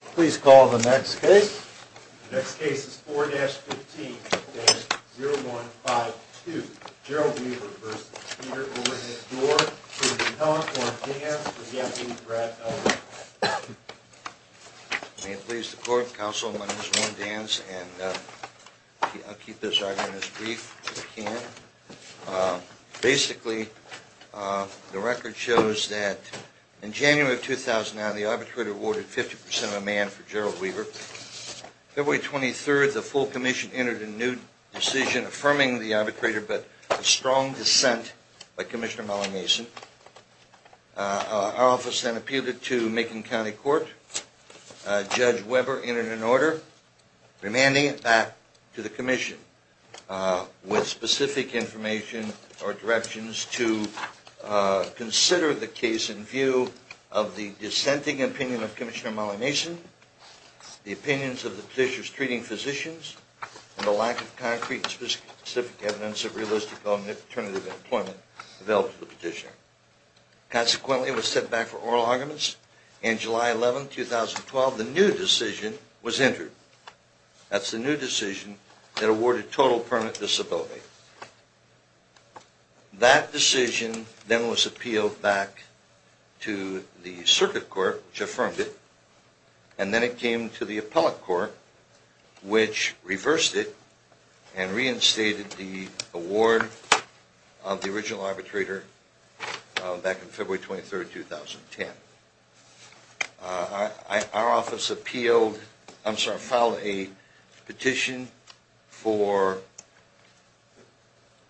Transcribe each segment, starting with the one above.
Please call the next case. The next case is 4-15-0152, Gerald Weaver v. Peter Overhead-Dorr v. Kellogg v. Danz v. Brad Ellman. May it please the court, counsel, my name is Warren Danz, and I'll keep this argument as brief as I can. Basically, the record shows that in January of 2009, the arbitrator awarded 50% of a man for Gerald Weaver. February 23rd, the full commission entered a new decision affirming the arbitrator, but a strong dissent by Commissioner Mellon Mason. Our office then appealed it to Macon County Court. Judge Weber entered an order remanding it back to the commission with specific information or directions to consider the case in view of the dissenting opinion of Commissioner Mellon Mason, the opinions of the petitioners treating physicians, and the lack of concrete and specific evidence of realistic alternative employment available to the petitioner. Consequently, it was set back for oral arguments. In July 11, 2012, the new decision was entered. That's the new decision that awarded total permanent disability. That decision then was appealed back to the Circuit Court, which affirmed it, and then it came to the Appellate Court, which reversed it and reinstated the award of the original arbitrator back in February 23rd, 2010. Our office appealed – I'm sorry, filed a petition for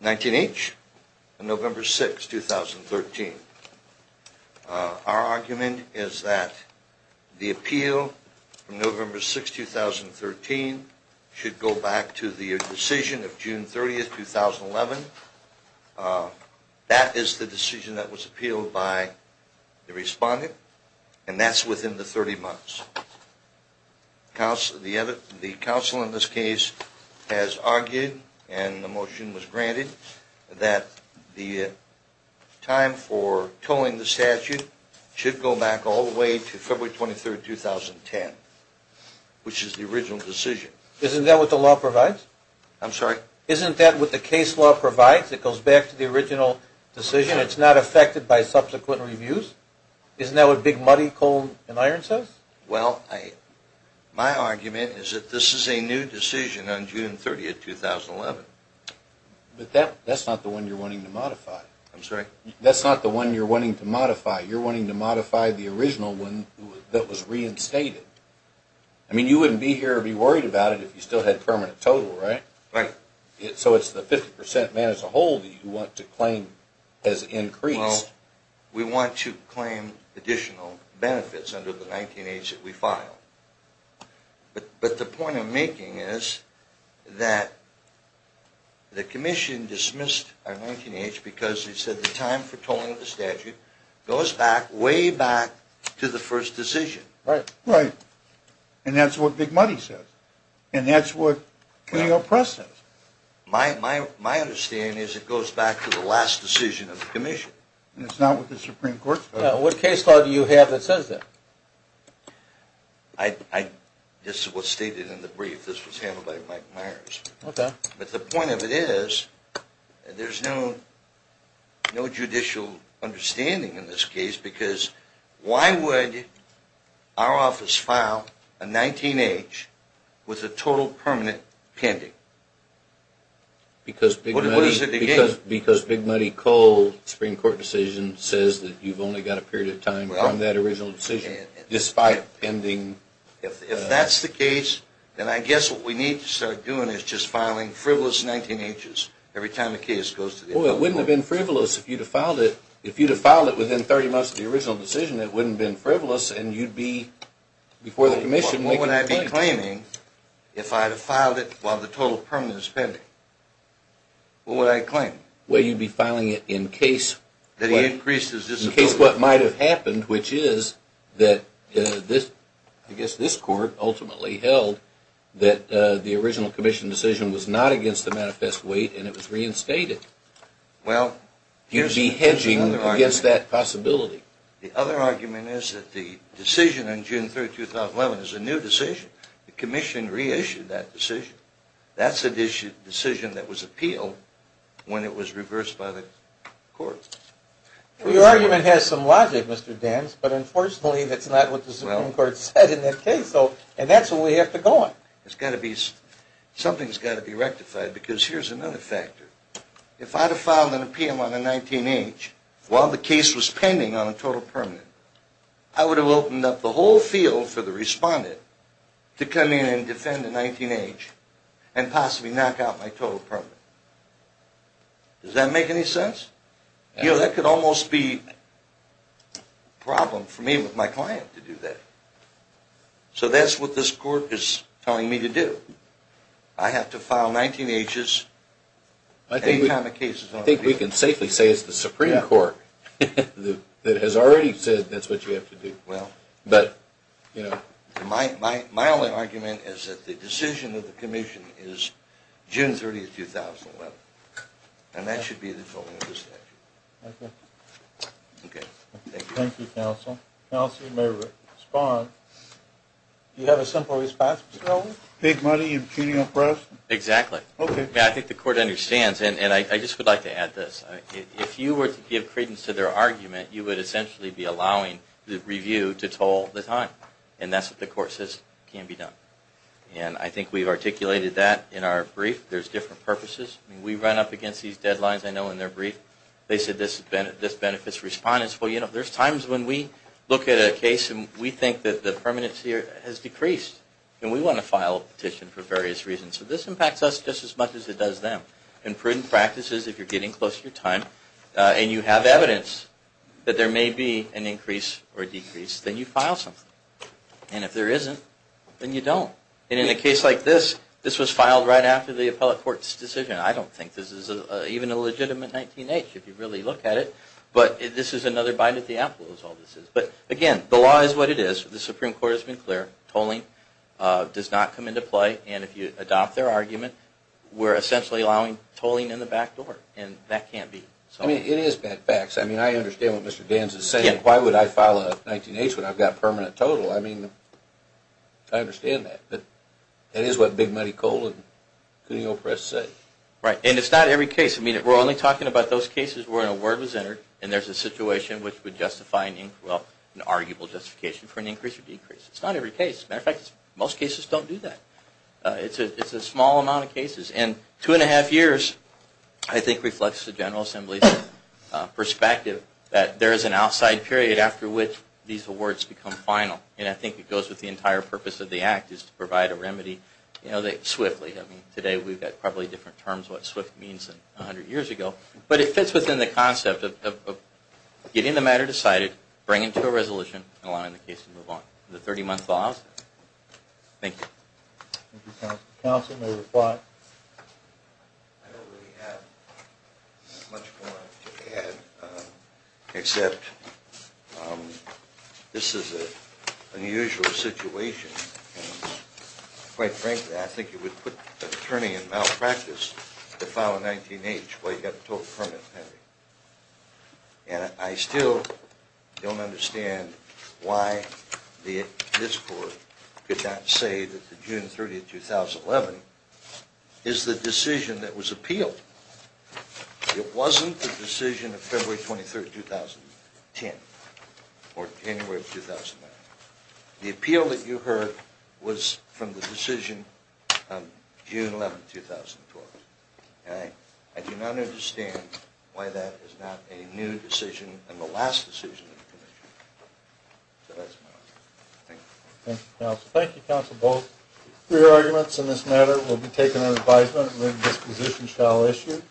19-H on November 6, 2013. Our argument is that the appeal from November 6, 2013 should go back to the decision of June 30, 2011. That is the decision that was appealed by the respondent, and that's within the 30 months. The counsel in this case has argued, and the motion was granted, that the time for towing the statute should go back all the way to February 23rd, 2010, which is the original decision. Isn't that what the law provides? I'm sorry? Isn't that what the case law provides? It goes back to the original decision. It's not affected by subsequent reviews. Isn't that what Big Muddy, Coal, and Iron says? Well, my argument is that this is a new decision on June 30, 2011. But that's not the one you're wanting to modify. I'm sorry? That's not the one you're wanting to modify. You're wanting to modify the original one that was reinstated. I mean, you wouldn't be here or be worried about it if you still had permanent total, right? Right. So it's the 50% man as a whole that you want to claim has increased. Well, we want to claim additional benefits under the 19-H that we filed. But the point I'm making is that the commission dismissed our 19-H because they said the time for towing of the statute goes back way back to the first decision. Right. And that's what Big Muddy says. And that's what the New York Press says. My understanding is it goes back to the last decision of the commission. And it's not with the Supreme Court? What case law do you have that says that? This is what's stated in the brief. This was handled by Mike Myers. Okay. But the point of it is there's no judicial understanding in this case because why would our office file a 19-H with a total permanent pending? Because Big Muddy Coal Supreme Court decision says that you've only got a period of time from that original decision despite pending. If that's the case, then I guess what we need to start doing is just filing frivolous 19-Hs every time a case goes to the Supreme Court. Well, it wouldn't have been frivolous if you'd have filed it within 30 months of the original decision. It wouldn't have been frivolous and you'd be before the commission making a claim. Well, what would I be claiming if I'd have filed it while the total permanent is pending? What would I claim? Well, you'd be filing it in case what might have happened, which is that this court ultimately held that the original commission decision was not against the manifest weight and it was reinstated. Well, here's another argument. You'd be hedging against that possibility. The other argument is that the decision on June 3, 2011 is a new decision. The commission reissued that decision. That's a decision that was appealed when it was reversed by the court. Well, your argument has some logic, Mr. Danz, but unfortunately that's not what the Supreme Court said in that case and that's what we have to go on. Something's got to be rectified because here's another factor. If I'd have filed an appeal on a 19-H while the case was pending on a total permanent, I would have opened up the whole field for the respondent to come in and defend a 19-H and possibly knock out my total permanent. Does that make any sense? You know, that could almost be a problem for me with my client to do that. So that's what this court is telling me to do. I have to file 19-Hs any time a case is on appeal. I think we can safely say it's the Supreme Court that has already said that's what you have to do. Well, my only argument is that the decision of the commission is June 30, 2011, and that should be the total of the statute. Okay. Okay. Thank you, counsel. Counsel, you may respond. Do you have a simple response, Mr. Holder? Take money and cheating on profits? Exactly. Okay. I think the court understands. And I just would like to add this. If you were to give credence to their argument, you would essentially be allowing the review to toll the time. And that's what the court says can be done. And I think we've articulated that in our brief. There's different purposes. We run up against these deadlines, I know, in their brief. They said this benefits respondents. Well, you know, there's times when we look at a case and we think that the permanency has decreased. And we want to file a petition for various reasons. So this impacts us just as much as it does them. In prudent practices, if you're getting close to your time and you have evidence that there may be an increase or decrease, then you file something. And if there isn't, then you don't. And in a case like this, this was filed right after the appellate court's decision. I don't think this is even a legitimate 19-H, if you really look at it. But this is another bite at the apple is all this is. But, again, the law is what it is. The Supreme Court has been clear. Tolling does not come into play. And if you adopt their argument, we're essentially allowing tolling in the back door. And that can't be. I mean, it is bad facts. I mean, I understand what Mr. Gans is saying. Why would I file a 19-H when I've got permanent total? I mean, I understand that. But that is what Big Muddy Cole and Cuneo Press say. Right. And it's not every case. We're only talking about those cases where an award was entered, and there's a situation which would justify an arguable justification for an increase or decrease. It's not every case. As a matter of fact, most cases don't do that. It's a small amount of cases. And two and a half years, I think, reflects the General Assembly's perspective that there is an outside period after which these awards become final. And I think it goes with the entire purpose of the Act is to provide a remedy swiftly. I mean, today we've got probably different terms of what swift means than 100 years ago. But it fits within the concept of getting the matter decided, bringing to a resolution, and allowing the case to move on. The 30-month vows? Thank you. Thank you, Counsel. Counsel may reply. I don't really have much more to add, except this is an unusual situation. Quite frankly, I think it would put an attorney in malpractice to file a 19-H while you have a total permit pending. And I still don't understand why this Court could not say that the June 30, 2011, is the decision that was appealed. It wasn't the decision of February 23, 2010 or January 2009. The appeal that you heard was from the decision of June 11, 2012. I do not understand why that is not a new decision and the last decision of the Commission. So that's my argument. Thank you. Thank you, Counsel. Thank you, Counsel Bolz. Your arguments in this matter will be taken under advisement, and then this position shall issue.